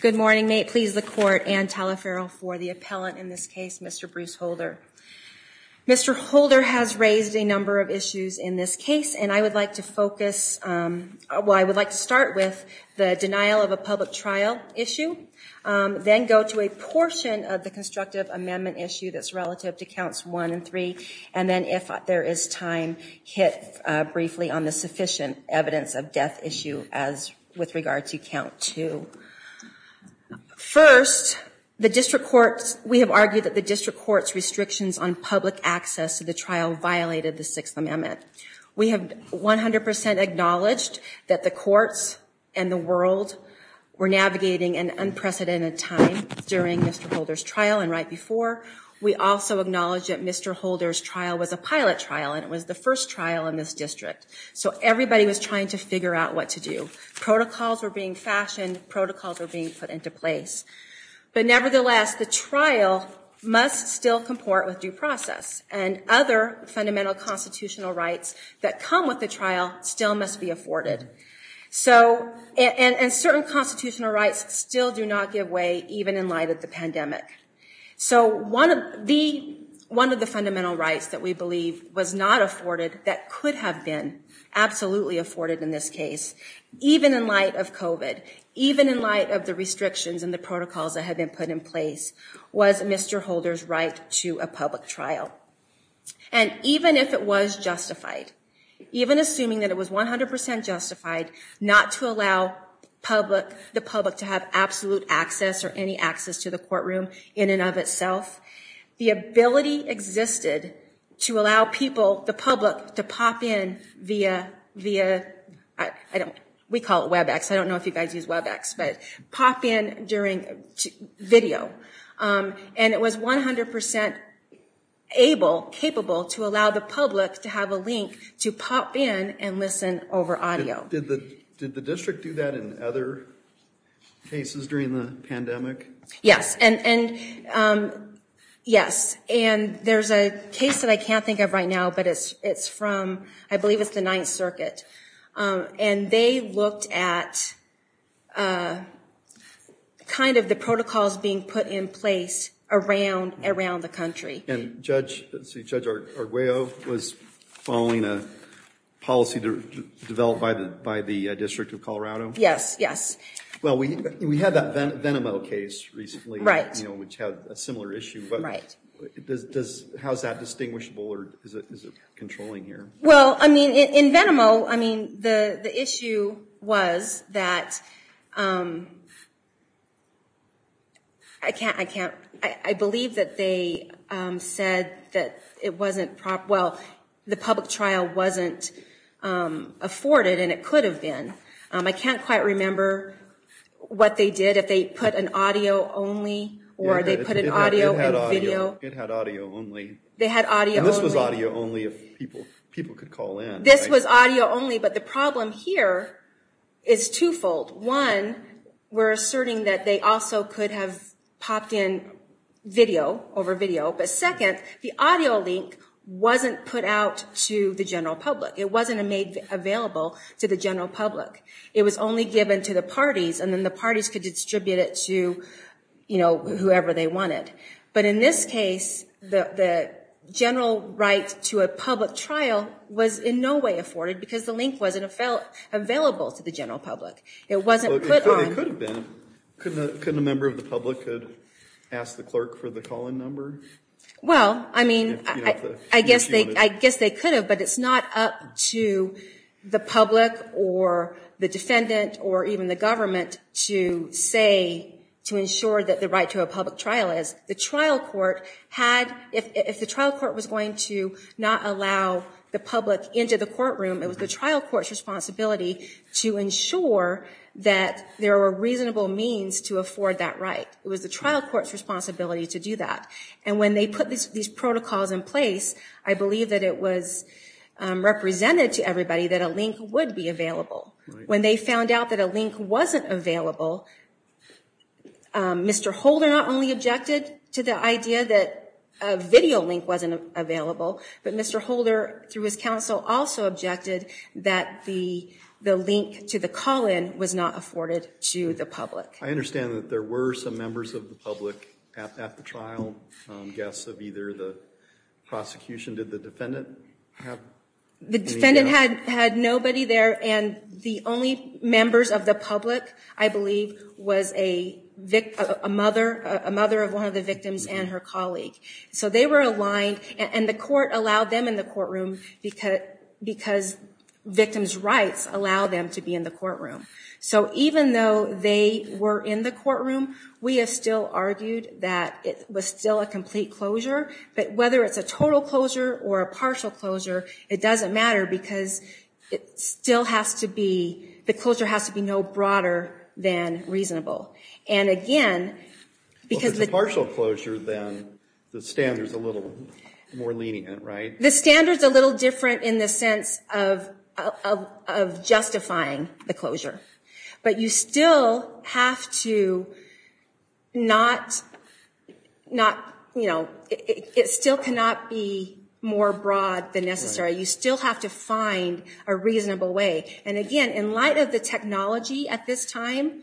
Good morning. May it please the court and Telefero for the appellant in this case, Mr. Bruce Holder. Mr. Holder has raised a number of issues in this case and I would like to focus, well I would like to start with the denial of a public trial issue, then go to a portion of the constructive amendment issue that's relative to counts one and three, and then if there is time, hit briefly on the sufficient evidence of death issue as with regard to count two. First, the district courts, we have argued that the district court's restrictions on public access to the trial violated the Sixth Amendment. We have 100% acknowledged that the courts and the world were navigating an unprecedented time during Mr. Holder's trial and right before. We also acknowledge that Mr. Holder's trial was a pilot trial and it was the first trial in this district. So everybody was trying to figure out what to do. Protocols were being fashioned, protocols were being put into place. But nevertheless, the trial must still comport with due process and other fundamental constitutional rights that come with the trial still must be afforded. So and certain constitutional rights still do not give way, even in light of the pandemic. So one of the fundamental rights that we believe was not afforded that could have been absolutely afforded in this case, even in light of COVID, even in light of the restrictions and the protocols that had been put in place, was Mr. Holder's right to a public trial. And even if it was justified, even assuming that it was 100% justified not to allow the public to have absolute access or any access to the courtroom in and of itself, the ability existed to allow people, the public, to pop in via, we call it Webex, I don't know if you guys use Webex, but pop in during video. And it was 100% able, capable to allow the public to have a link to pop in and listen over audio. Did the district do that in other cases during the pandemic? Yes, and yes. And there's a case that I can't think of right now, but it's from, I believe it's the Ninth Circuit. And they looked at kind of the protocols being put in place around the country. And Judge Arguello was following a policy developed by the District of Colorado? Yes, yes. Well, we had that Venomo case recently. Which had a similar issue. Right. How is that distinguishable or is it controlling here? Well, I mean, in Venomo, I mean, the issue was that I can't, I can't, I believe that they said that it wasn't, well, the public trial wasn't afforded and it could have been. I can't quite remember what they did. If they put an audio only or they put an audio and video. It had audio only. They had audio only. And this was audio only if people, people could call in. This was audio only. But the problem here is twofold. One, we're asserting that they also could have popped in video over video. But second, the audio link wasn't put out to the general public. It wasn't made available to the general public. It was only given to the parties and then the parties could distribute it to, you know, whoever they wanted. But in this case, the general right to a public trial was in no way afforded because the link wasn't available to the general public. It wasn't put on. It could have been. Couldn't a member of the public ask the clerk for the call in number? Well, I mean, I guess they could have. But it's not up to the public or the defendant or even the government to say, to ensure that the right to a public trial is. The trial court had, if the trial court was going to not allow the public into the courtroom, it was the trial court's responsibility to ensure that there were reasonable means to afford that right. It was the trial court's responsibility to do that. And when they put these protocols in place, I believe that it was represented to everybody that a link would be available. When they found out that a link wasn't available, Mr. Holder not only objected to the idea that a video link wasn't available, but Mr. Holder, through his counsel, also objected that the link to the call in was not afforded to the public. I understand that there were some members of the public at the trial, guests of either the prosecution. Did the defendant have any? The defendant had nobody there. And the only members of the public, I believe, was a mother of one of the victims and her colleague. So they were aligned. And the court allowed them in the courtroom because victims' rights allow them to be in the courtroom. So even though they were in the courtroom, we have still argued that it was still a complete closure. But whether it's a total closure or a partial closure, it doesn't matter because it still has to be, the closure has to be no broader than reasonable. And again, because the- Well, if it's a partial closure, then the standard's a little more lenient, right? The standard's a little different in the sense of justifying the closure. But you still have to not, you know, it still cannot be more broad than necessary. You still have to find a reasonable way. And again, in light of the technology at this time,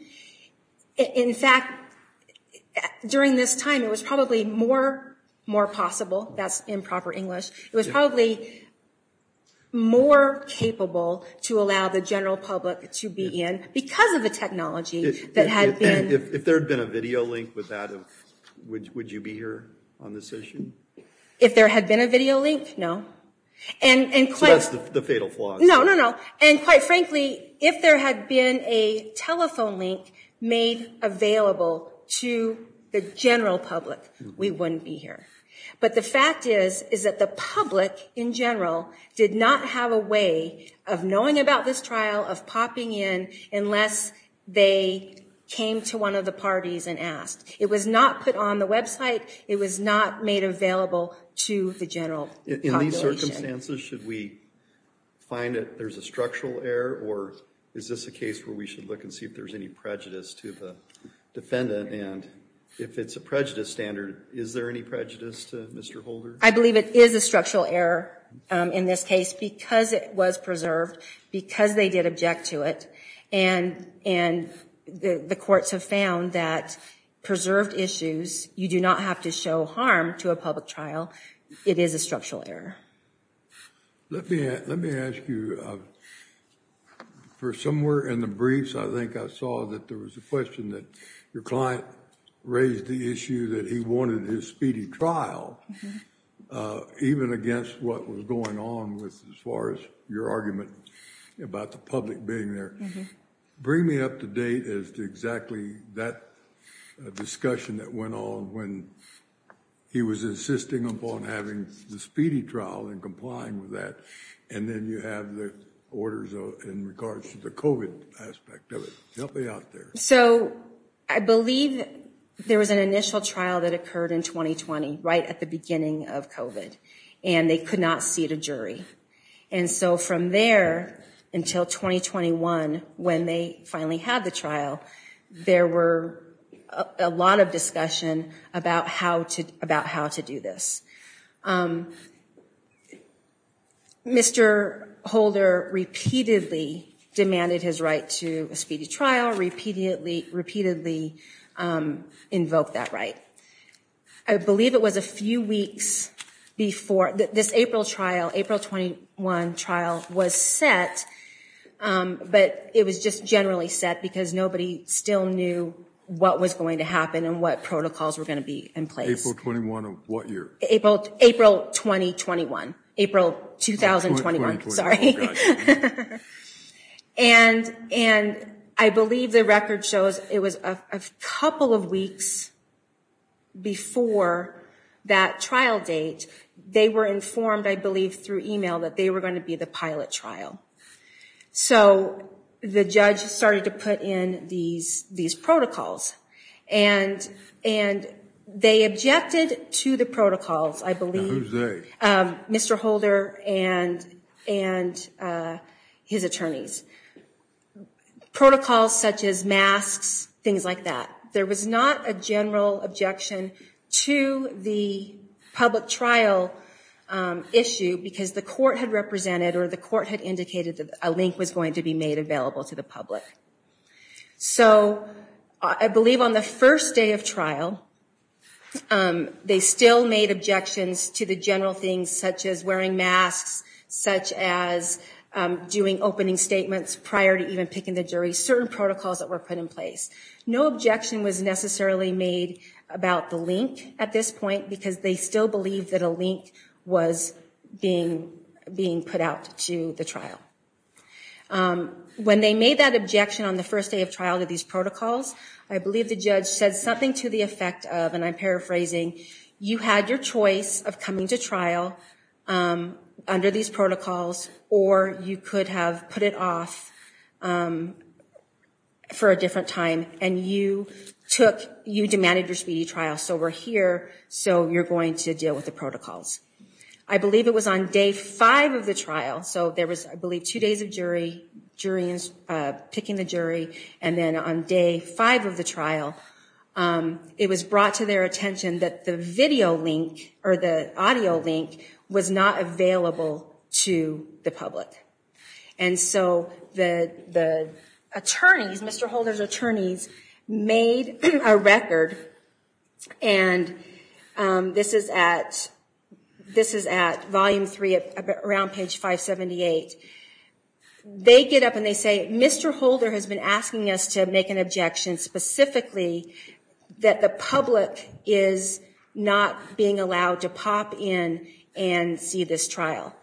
in fact, during this time, it was probably more possible. That's improper English. It was probably more capable to allow the general public to be in because of the technology that had been- If there had been a video link with that, would you be here on this session? If there had been a video link, no. So that's the fatal flaw. No, no, no. And quite frankly, if there had been a telephone link made available to the general public, we wouldn't be here. But the fact is, is that the public in general did not have a way of knowing about this trial, of popping in, unless they came to one of the parties and asked. It was not put on the website. It was not made available to the general population. In these circumstances, should we find that there's a structural error, or is this a case where we should look and see if there's any prejudice to the defendant? And if it's a prejudice standard, is there any prejudice to Mr. Holder? I believe it is a structural error in this case because it was preserved, because they did object to it. And the courts have found that preserved issues, you do not have to show harm to a public trial. It is a structural error. Let me ask you, for somewhere in the briefs, I think I saw that there was a question that your client raised the issue that he wanted his speedy trial, even against what was going on as far as your argument about the public being there. Bring me up to date as to exactly that discussion that went on when he was insisting upon having the speedy trial and complying with that, and then you have the orders in regards to the COVID aspect of it. Help me out there. So, I believe there was an initial trial that occurred in 2020, right at the beginning of COVID, and they could not seat a jury. And so from there until 2021, when they finally had the trial, there were a lot of discussion about how to do this. Mr. Holder repeatedly demanded his right to a speedy trial, repeatedly invoked that right. I believe it was a few weeks before this April trial, April 21 trial was set, but it was just generally set because nobody still knew what was going to happen and what protocols were going to be in place. April 21 of what year? April 2021. April 2021, sorry. And I believe the record shows it was a couple of weeks before that trial date. They were informed, I believe, through email that they were going to be the pilot trial. So, the judge started to put in these protocols, and they objected to the protocols, I believe. Who's they? Mr. Holder and his attorneys. Protocols such as masks, things like that. There was not a general objection to the public trial issue because the court had represented or the court had indicated that a link was going to be made available to the public. So, I believe on the first day of trial, they still made objections to the general things such as wearing masks, such as doing opening statements prior to even picking the jury, certain protocols that were put in place. No objection was necessarily made about the link at this point because they still believed that a link was being put out to the trial. When they made that objection on the first day of trial to these protocols, I believe the judge said something to the effect of, and I'm paraphrasing, you had your choice of coming to trial under these protocols or you could have put it off for a different time and you demanded your speedy trial. So, we're here, so you're going to deal with the protocols. I believe it was on day five of the trial. So, there was, I believe, two days of jury, picking the jury, and then on day five of the trial, it was brought to their attention that the video link or the audio link was not available to the public. And so, the attorneys, Mr. Holder's attorneys, made a record, and this is at volume three, around page 578. They get up and they say, Mr. Holder has been asking us to make an objection specifically that the public is not being allowed to pop in and see this trial.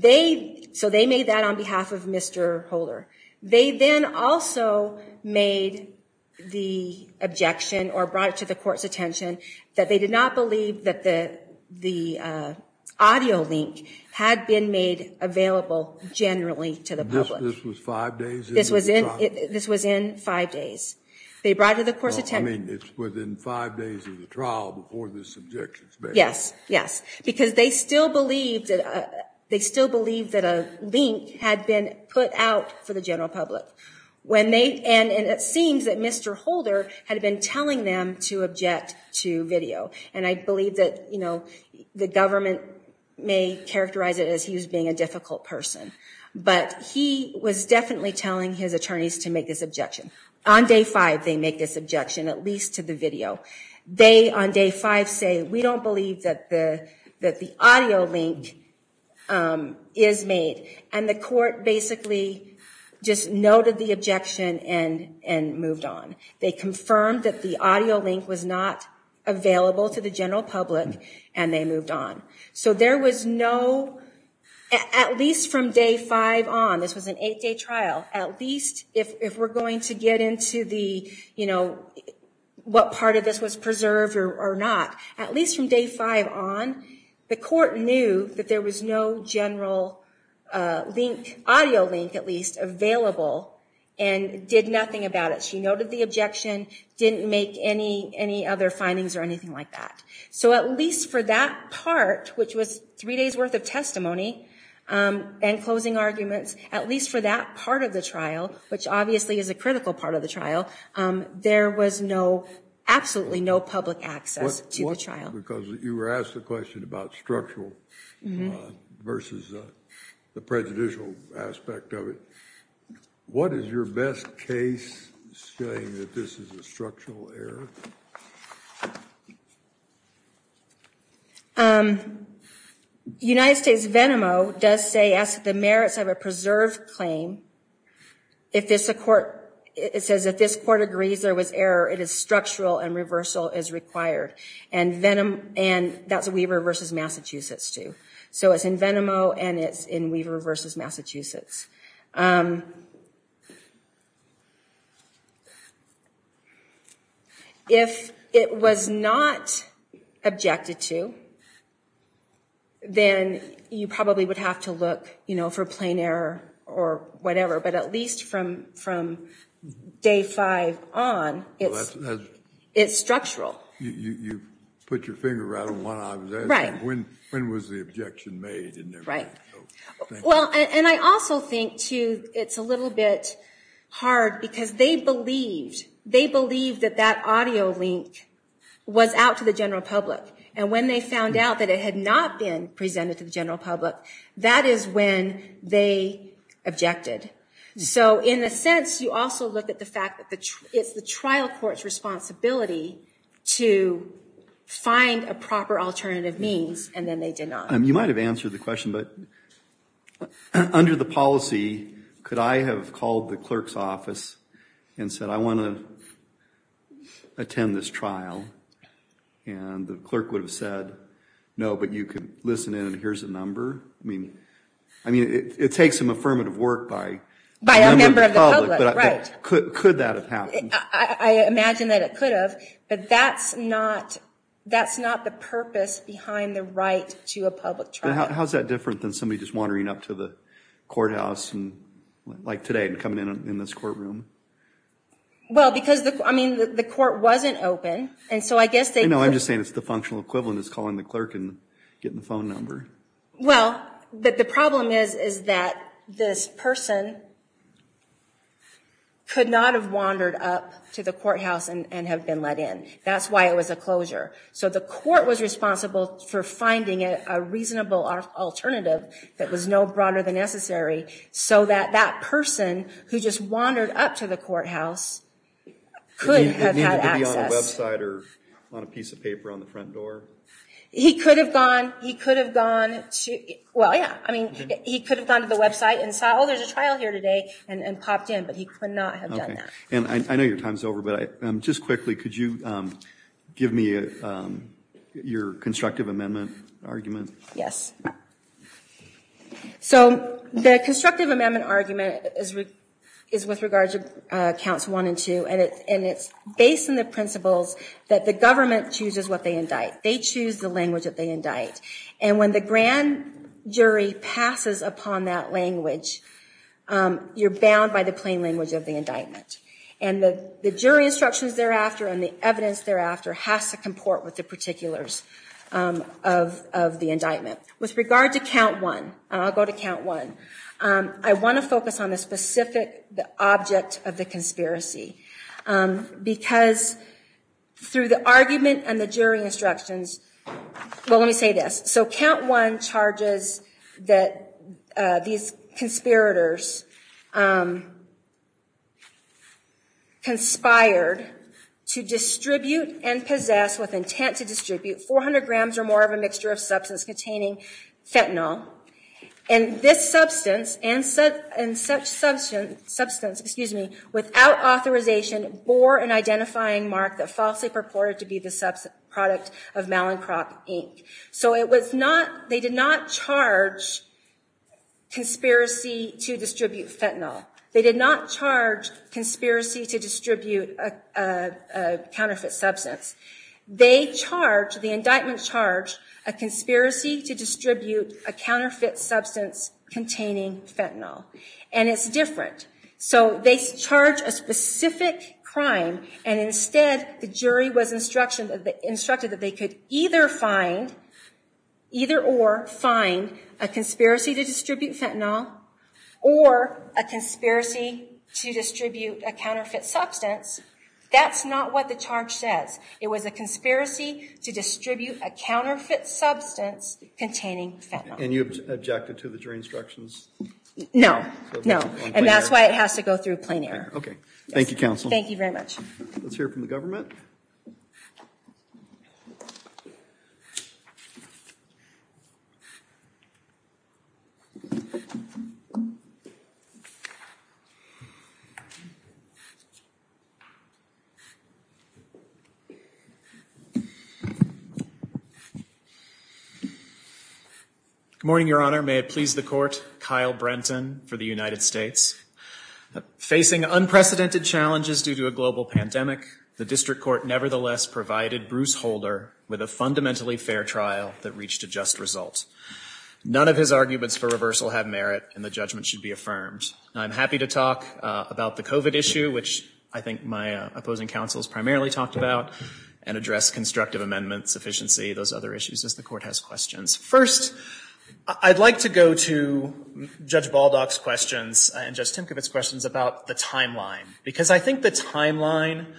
So, they made that on behalf of Mr. Holder. They then also made the objection or brought it to the court's attention that they did not believe that the audio link had been made available generally to the public. This was five days into the trial? This was in five days. They brought it to the court's attention. I mean, it's within five days of the trial before this objection is made. Yes, yes. Because they still believe that a link had been put out for the general public. And it seems that Mr. Holder had been telling them to object to video. And I believe that the government may characterize it as he was being a difficult person. But he was definitely telling his attorneys to make this objection. On day five, they make this objection, at least to the video. They, on day five, say, we don't believe that the audio link is made. And the court basically just noted the objection and moved on. They confirmed that the audio link was not available to the general public, and they moved on. So there was no, at least from day five on, this was an eight-day trial, at least if we're going to get into what part of this was preserved or not. At least from day five on, the court knew that there was no general audio link, at least, available and did nothing about it. She noted the objection, didn't make any other findings or anything like that. So at least for that part, which was three days' worth of testimony and closing arguments, at least for that part of the trial, which obviously is a critical part of the trial, there was absolutely no public access to the trial. Because you were asked a question about structural versus the prejudicial aspect of it. What is your best case saying that this is a structural error? United States Venomo does say, as to the merits of a preserved claim, it says if this court agrees there was error, it is structural and reversal is required. And that's Weaver v. Massachusetts, too. So it's in Venomo, and it's in Weaver v. Massachusetts. If it was not objected to, then you probably would have to look for plain error or whatever. But at least from day five on, it's structural. You put your finger right on what I was asking. Right. When was the objection made? Right. Well, and I also think, too, it's a little bit hard because they believed that that audio link was out to the general public. And when they found out that it had not been presented to the general public, that is when they objected. So, in a sense, you also look at the fact that it's the trial court's responsibility to find a proper alternative means, and then they did not. You might have answered the question, but under the policy, could I have called the clerk's office and said, I want to attend this trial, and the clerk would have said, no, but you could listen in, and here's a number? I mean, it takes some affirmative work by a member of the public. By a member of the public, right. Could that have happened? I imagine that it could have. But that's not the purpose behind the right to a public trial. But how is that different than somebody just wandering up to the courthouse, like today, and coming in this courtroom? Well, because the court wasn't open, and so I guess they... No, I'm just saying it's the functional equivalent of calling the clerk and getting the phone number. Well, the problem is that this person could not have wandered up to the courthouse and have been let in. That's why it was a closure. So the court was responsible for finding a reasonable alternative that was no broader than necessary so that that person who just wandered up to the courthouse could have had access. It needed to be on a website or on a piece of paper on the front door? He could have gone to the website and saw, oh, there's a trial here today, and popped in, but he could not have done that. And I know your time's over, but just quickly, could you give me your constructive amendment argument? Yes. So the constructive amendment argument is with regard to Counts 1 and 2, and it's based on the principles that the government chooses what they indict. They choose the language that they indict. And when the grand jury passes upon that language, you're bound by the plain language of the indictment. And the jury instructions thereafter and the evidence thereafter has to comport with the particulars of the indictment. With regard to Count 1, I'll go to Count 1, I want to focus on the specific object of the conspiracy because through the argument and the jury instructions, well, let me say this. So Count 1 charges that these conspirators conspired to distribute and possess with intent to distribute 400 grams or more of a mixture of substance containing fentanyl. And this substance and such substance, excuse me, without authorization bore an identifying mark that falsely purported to be the product of Malincrop Inc. So it was not, they did not charge conspiracy to distribute fentanyl. They did not charge conspiracy to distribute a counterfeit substance. They charged, the indictment charged, a conspiracy to distribute a counterfeit substance containing fentanyl. And it's different. So they charge a specific crime and instead the jury was instructed that they could either find, either or, find a conspiracy to distribute fentanyl or a conspiracy to distribute a counterfeit substance. That's not what the charge says. It was a conspiracy to distribute a counterfeit substance containing fentanyl. And you objected to the jury instructions? No, no. And that's why it has to go through plain air. Okay. Thank you, Counsel. Thank you very much. Let's hear from the government. Good morning, Your Honor. May it please the Court. Kyle Brenton for the United States. Facing unprecedented challenges due to a global pandemic, the District Court nevertheless provided Bruce Holder with a fundamentally fair trial that reached a just result. None of his arguments for reversal have merit and the judgment should be affirmed. I'm happy to talk about the COVID issue, which I think my opposing counsels primarily talked about, and address constructive amendments, efficiency, those other issues as the Court has questions. First, I'd like to go to Judge Baldock's questions and Judge Timkowitz's questions about the timeline. Because I think the timeline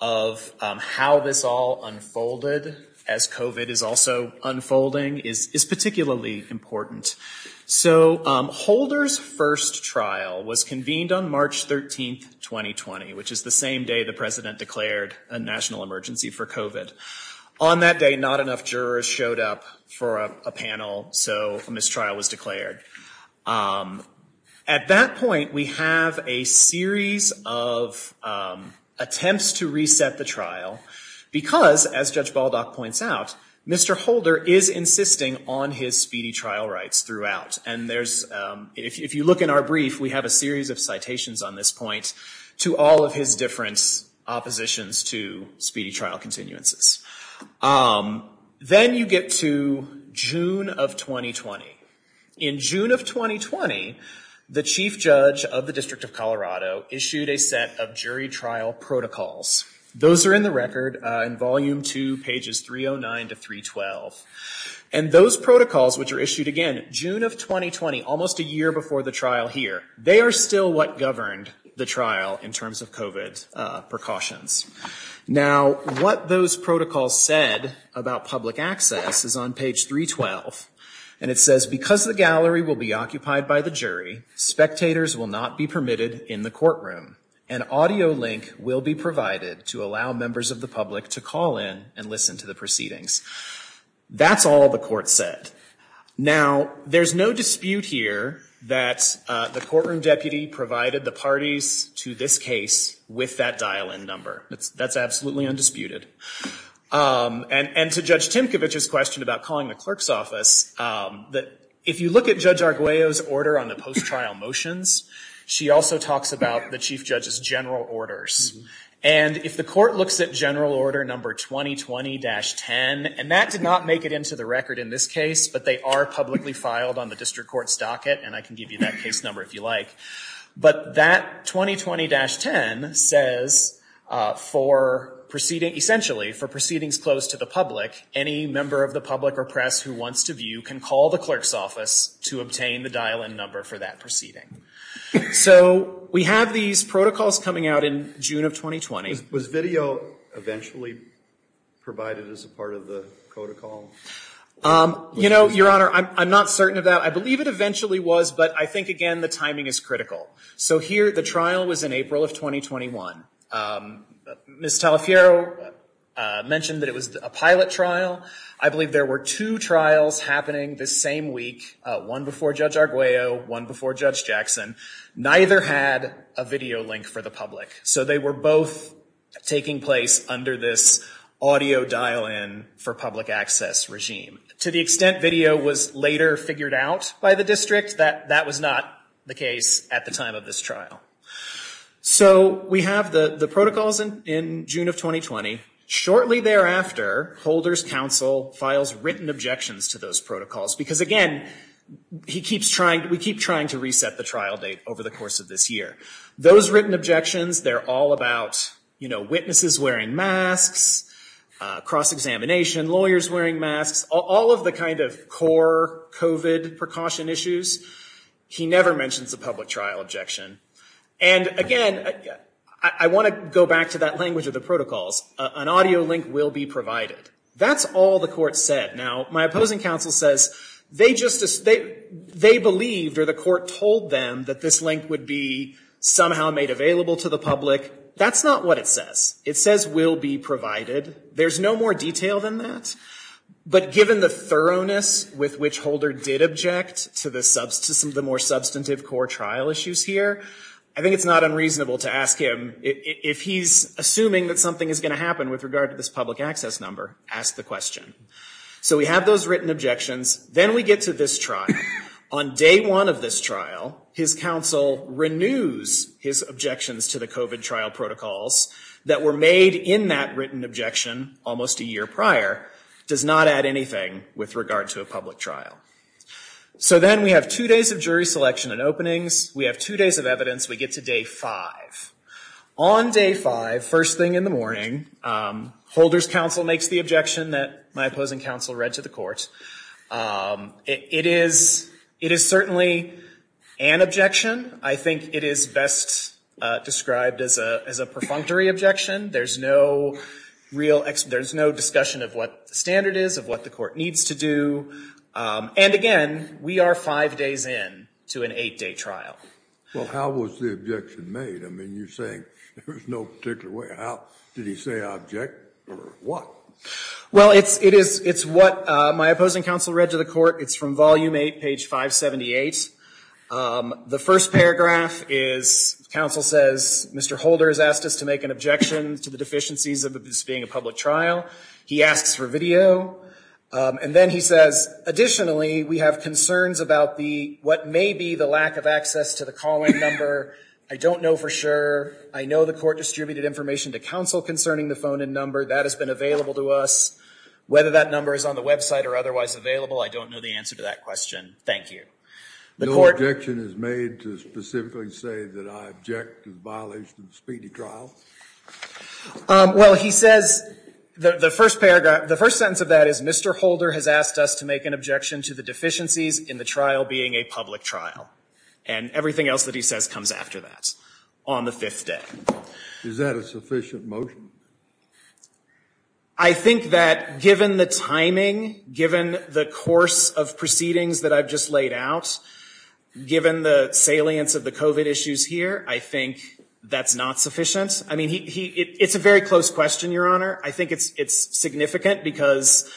of how this all unfolded, as COVID is also unfolding, is particularly important. So Holder's first trial was convened on March 13, 2020, which is the same day the President declared a national emergency for COVID. On that day, not enough jurors showed up for a panel, so a mistrial was declared. At that point, we have a series of attempts to reset the trial, because, as Judge Baldock points out, Mr. Holder is insisting on his speedy trial rights throughout. And if you look in our brief, we have a series of citations on this point to all of his different oppositions to speedy trial continuances. Then you get to June of 2020. In June of 2020, the Chief Judge of the District of Colorado issued a set of jury trial protocols. Those are in the record in Volume 2, pages 309 to 312. And those protocols, which are issued, again, June of 2020, almost a year before the trial here, they are still what governed the trial in terms of COVID precautions. Now, what those protocols said about public access is on page 312, and it says, because the gallery will be occupied by the jury, spectators will not be permitted in the courtroom. An audio link will be provided to allow members of the public to call in and listen to the proceedings. That's all the court said. Now, there's no dispute here that the courtroom deputy provided the parties to this case with that dial-in number. That's absolutely undisputed. And to Judge Timkovich's question about calling the clerk's office, if you look at Judge Arguello's order on the post-trial motions, she also talks about the Chief Judge's general orders. And if the court looks at general order number 2020-10, and that did not make it into the record in this case, but they are publicly filed on the district court's docket, and I can give you that case number if you like. But that 2020-10 says for proceedings, essentially for proceedings closed to the public, any member of the public or press who wants to view can call the clerk's office to obtain the dial-in number for that proceeding. So we have these protocols coming out in June of 2020. Was video eventually provided as a part of the protocol? You know, Your Honor, I'm not certain of that. I believe it eventually was, but I think, again, the timing is critical. So here, the trial was in April of 2021. Ms. Talaferro mentioned that it was a pilot trial. I believe there were two trials happening this same week, one before Judge Arguello, one before Judge Jackson. Neither had a video link for the public. So they were both taking place under this audio dial-in for public access regime. To the extent video was later figured out by the district, that was not the case at the time of this trial. So we have the protocols in June of 2020. Shortly thereafter, Holder's counsel files written objections to those protocols, because, again, we keep trying to reset the trial date over the course of this year. Those written objections, they're all about, you know, witnesses wearing masks, cross-examination, lawyers wearing masks, all of the kind of core COVID precaution issues. He never mentions a public trial objection. And, again, I want to go back to that language of the protocols. An audio link will be provided. That's all the court said. Now, my opposing counsel says they believed, or the court told them, that this link would be somehow made available to the public. That's not what it says. It says will be provided. There's no more detail than that. But given the thoroughness with which Holder did object to the more substantive core trial issues here, I think it's not unreasonable to ask him, if he's assuming that something is going to happen with regard to this public access number, ask the question. So we have those written objections. Then we get to this trial. On day one of this trial, his counsel renews his objections to the COVID trial protocols that were made in that written objection almost a year prior, does not add anything with regard to a public trial. So then we have two days of jury selection and openings. We have two days of evidence. We get to day five. On day five, first thing in the morning, Holder's counsel makes the objection that my opposing counsel read to the court. It is certainly an objection. I think it is best described as a perfunctory objection. There's no discussion of what the standard is, of what the court needs to do. And again, we are five days in to an eight-day trial. Well, how was the objection made? I mean, you're saying there was no particular way. Did he say object or what? Well, it's what my opposing counsel read to the court. It's from Volume 8, page 578. The first paragraph is counsel says, Mr. Holder has asked us to make an objection to the deficiencies of this being a public trial. He asks for video. And then he says, additionally, we have concerns about what may be the lack of access to the call-in number. I don't know for sure. I know the court distributed information to counsel concerning the phone-in number. That has been available to us. Whether that number is on the website or otherwise available, I don't know the answer to that question. Thank you. No objection is made to specifically say that I object to the violation of the speedy trial? Well, he says, the first paragraph, the first sentence of that is, Mr. Holder has asked us to make an objection to the deficiencies in the trial being a public trial. And everything else that he says comes after that on the fifth day. Is that a sufficient motion? I think that given the timing, given the course of proceedings that I've just laid out, given the salience of the COVID issues here, I think that's not sufficient. I mean, it's a very close question, Your Honor. I think it's significant because,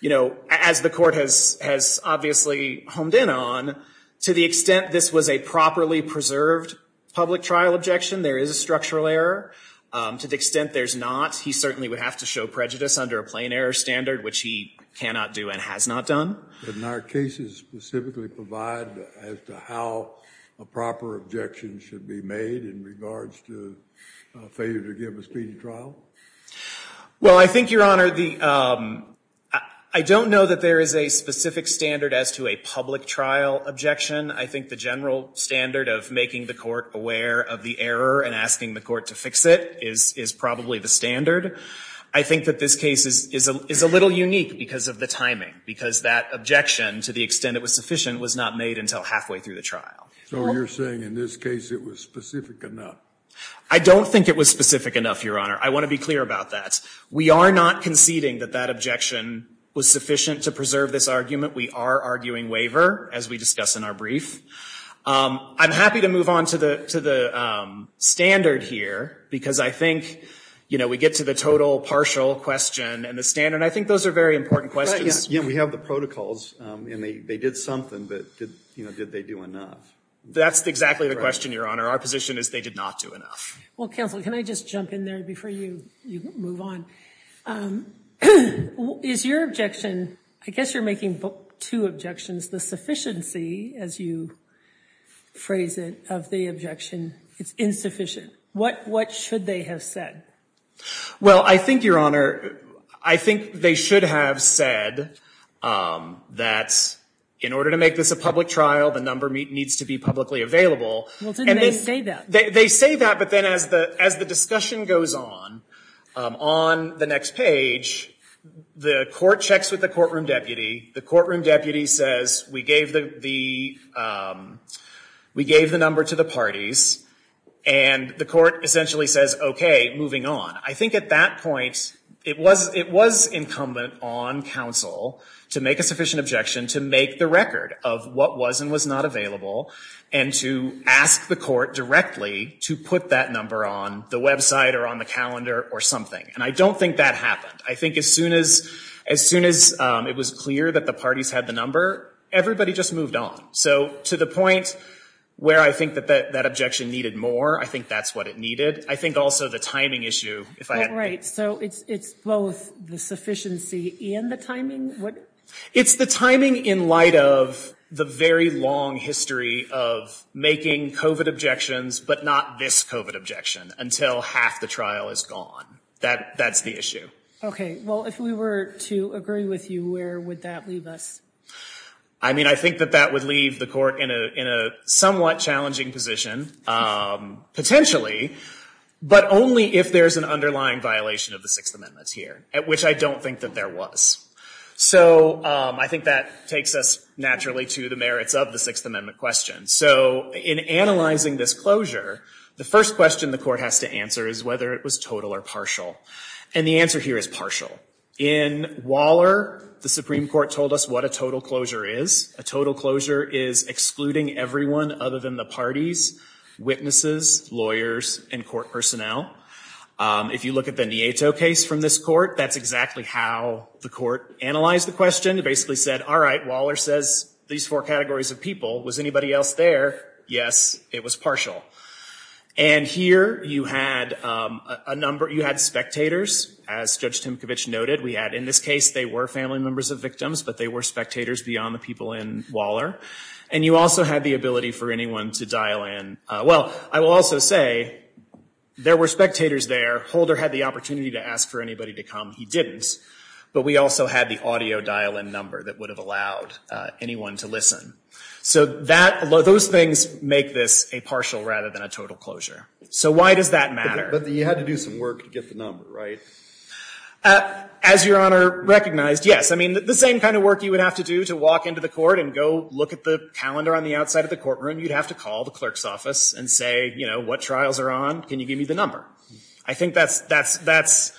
you know, as the court has obviously honed in on, to the extent this was a properly preserved public trial objection, there is a structural error. To the extent there's not, he certainly would have to show prejudice under a plain error standard, which he cannot do and has not done. But in our cases specifically provide as to how a proper objection should be made in regards to failure to give a speedy trial? Well, I think, Your Honor, I don't know that there is a specific standard as to a public trial objection. I think the general standard of making the court aware of the error and asking the court to fix it is probably the standard. I think that this case is a little unique because of the timing, because that objection, to the extent it was sufficient, was not made until halfway through the trial. So you're saying in this case it was specific enough? I don't think it was specific enough, Your Honor. I want to be clear about that. We are not conceding that that objection was sufficient to preserve this argument. We are arguing waiver, as we discuss in our brief. I'm happy to move on to the standard here because I think, you know, we get to the total partial question and the standard. I think those are very important questions. We have the protocols, and they did something, but, you know, did they do enough? That's exactly the question, Your Honor. Our position is they did not do enough. Well, counsel, can I just jump in there before you move on? Is your objection, I guess you're making two objections, the sufficiency, as you phrase it, of the objection, it's insufficient. What should they have said? Well, I think, Your Honor, I think they should have said that in order to make this a public trial, the number needs to be publicly available. Well, didn't they say that? They say that, but then as the discussion goes on, on the next page, the court checks with the courtroom deputy. The courtroom deputy says, we gave the number to the parties, and the court essentially says, okay, moving on. I think at that point, it was incumbent on counsel to make a sufficient objection to make the record of what was and was not available, and to ask the court directly to put that number on the website or on the calendar or something. And I don't think that happened. I think as soon as it was clear that the parties had the number, everybody just moved on. So to the point where I think that that objection needed more, I think that's what it needed. I think also the timing issue, if I have the right. Right. So it's both the sufficiency and the timing? It's the timing in light of the very long history of making COVID objections, but not this COVID objection until half the trial is gone. That's the issue. Okay. Well, if we were to agree with you, where would that leave us? I mean, I think that that would leave the court in a somewhat challenging position, potentially, but only if there's an underlying violation of the Sixth Amendment here, which I don't think that there was. So I think that takes us naturally to the merits of the Sixth Amendment question. So in analyzing this closure, the first question the court has to answer is whether it was total or partial. And the answer here is partial. In Waller, the Supreme Court told us what a total closure is. A total closure is excluding everyone other than the parties, witnesses, lawyers, and court personnel. If you look at the Nieto case from this court, that's exactly how the court analyzed the question. It basically said, all right, Waller says these four categories of people. Was anybody else there? Yes, it was partial. And here you had spectators, as Judge Timkovich noted. In this case, they were family members of victims, but they were spectators beyond the people in Waller. And you also had the ability for anyone to dial in. Well, I will also say there were spectators there. Holder had the opportunity to ask for anybody to come. He didn't. But we also had the audio dial-in number that would have allowed anyone to listen. So those things make this a partial rather than a total closure. So why does that matter? But you had to do some work to get the number, right? As Your Honor recognized, yes. I mean, the same kind of work you would have to do to walk into the court and go look at the calendar on the outside of the courtroom, you'd have to call the clerk's office and say, you know, what trials are on? Can you give me the number? I think that's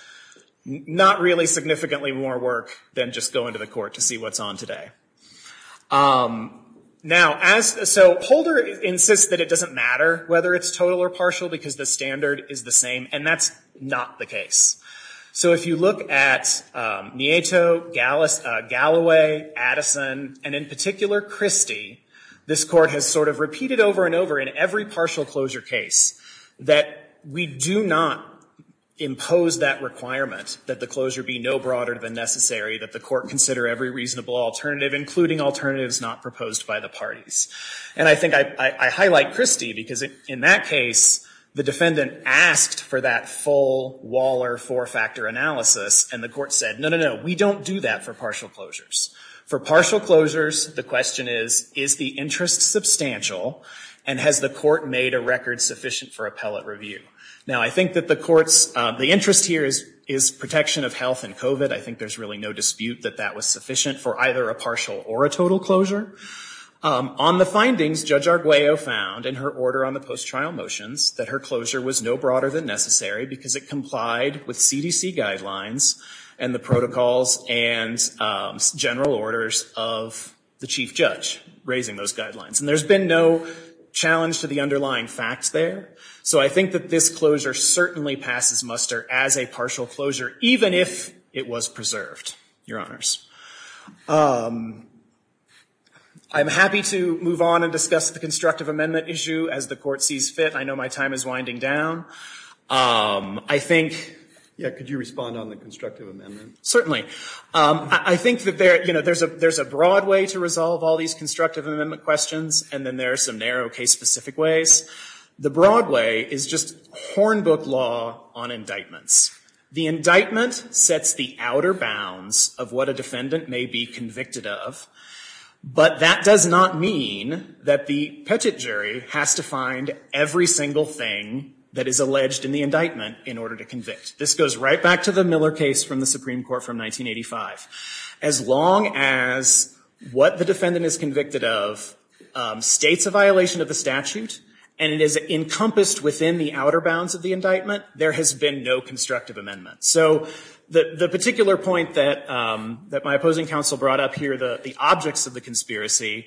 not really significantly more work than just going to the court to see what's on today. Now, so Holder insists that it doesn't matter whether it's total or partial because the standard is the same, and that's not the case. So if you look at Nieto, Galloway, Addison, and in particular Christie, this court has sort of repeated over and over in every partial closure case that we do not impose that requirement, that the closure be no broader than necessary, that the court consider every reasonable alternative, including alternatives not proposed by the parties. And I think I highlight Christie because in that case, the defendant asked for that full Waller four-factor analysis, and the court said, no, no, no, we don't do that for partial closures. For partial closures, the question is, is the interest substantial, and has the court made a record sufficient for appellate review? Now, I think that the court's, the interest here is protection of health and COVID. I think there's really no dispute that that was sufficient for either a partial or a total closure. On the findings, Judge Arguello found in her order on the post-trial motions that her closure was no broader than necessary because it complied with CDC guidelines and the protocols and general orders of the chief judge raising those guidelines. And there's been no challenge to the underlying facts there. So I think that this closure certainly passes muster as a partial closure, even if it was preserved, Your Honors. I'm happy to move on and discuss the constructive amendment issue as the court sees fit. I know my time is winding down. I think, yeah, could you respond on the constructive amendment? Certainly. I think that there's a broad way to resolve all these constructive amendment questions, and then there are some narrow case-specific ways. The broad way is just hornbook law on indictments. The indictment sets the outer bounds of what a defendant may be convicted of, but that does not mean that the petit jury has to find every single thing that is alleged in the indictment in order to convict. This goes right back to the Miller case from the Supreme Court from 1985. As long as what the defendant is convicted of states a violation of the statute and it is encompassed within the outer bounds of the indictment, there has been no constructive amendment. So the particular point that my opposing counsel brought up here, the objects of the conspiracy,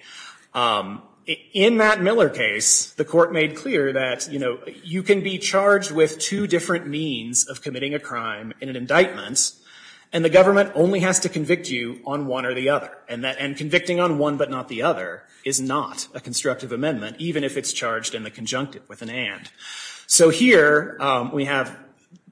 in that Miller case, the court made clear that, you know, you can be charged with two different means of committing a crime in an indictment, and the government only has to convict you on one or the other, and convicting on one but not the other is not a constructive amendment, even if it's charged in the conjunctive with an and. So here we have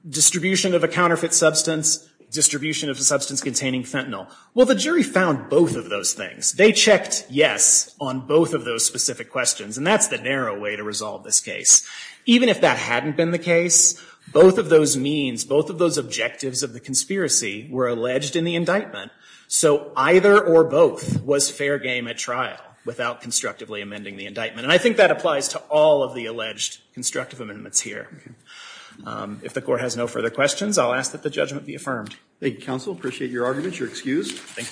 distribution of a counterfeit substance, distribution of a substance containing fentanyl. Well, the jury found both of those things. They checked yes on both of those specific questions, and that's the narrow way to resolve this case. Even if that hadn't been the case, both of those means, both of those objectives of the conspiracy were alleged in the indictment. So either or both was fair game at trial without constructively amending the indictment. And I think that applies to all of the alleged constructive amendments here. If the Court has no further questions, I'll ask that the judgment be affirmed. Thank you, counsel. I appreciate your argument. You're excused. Thank you.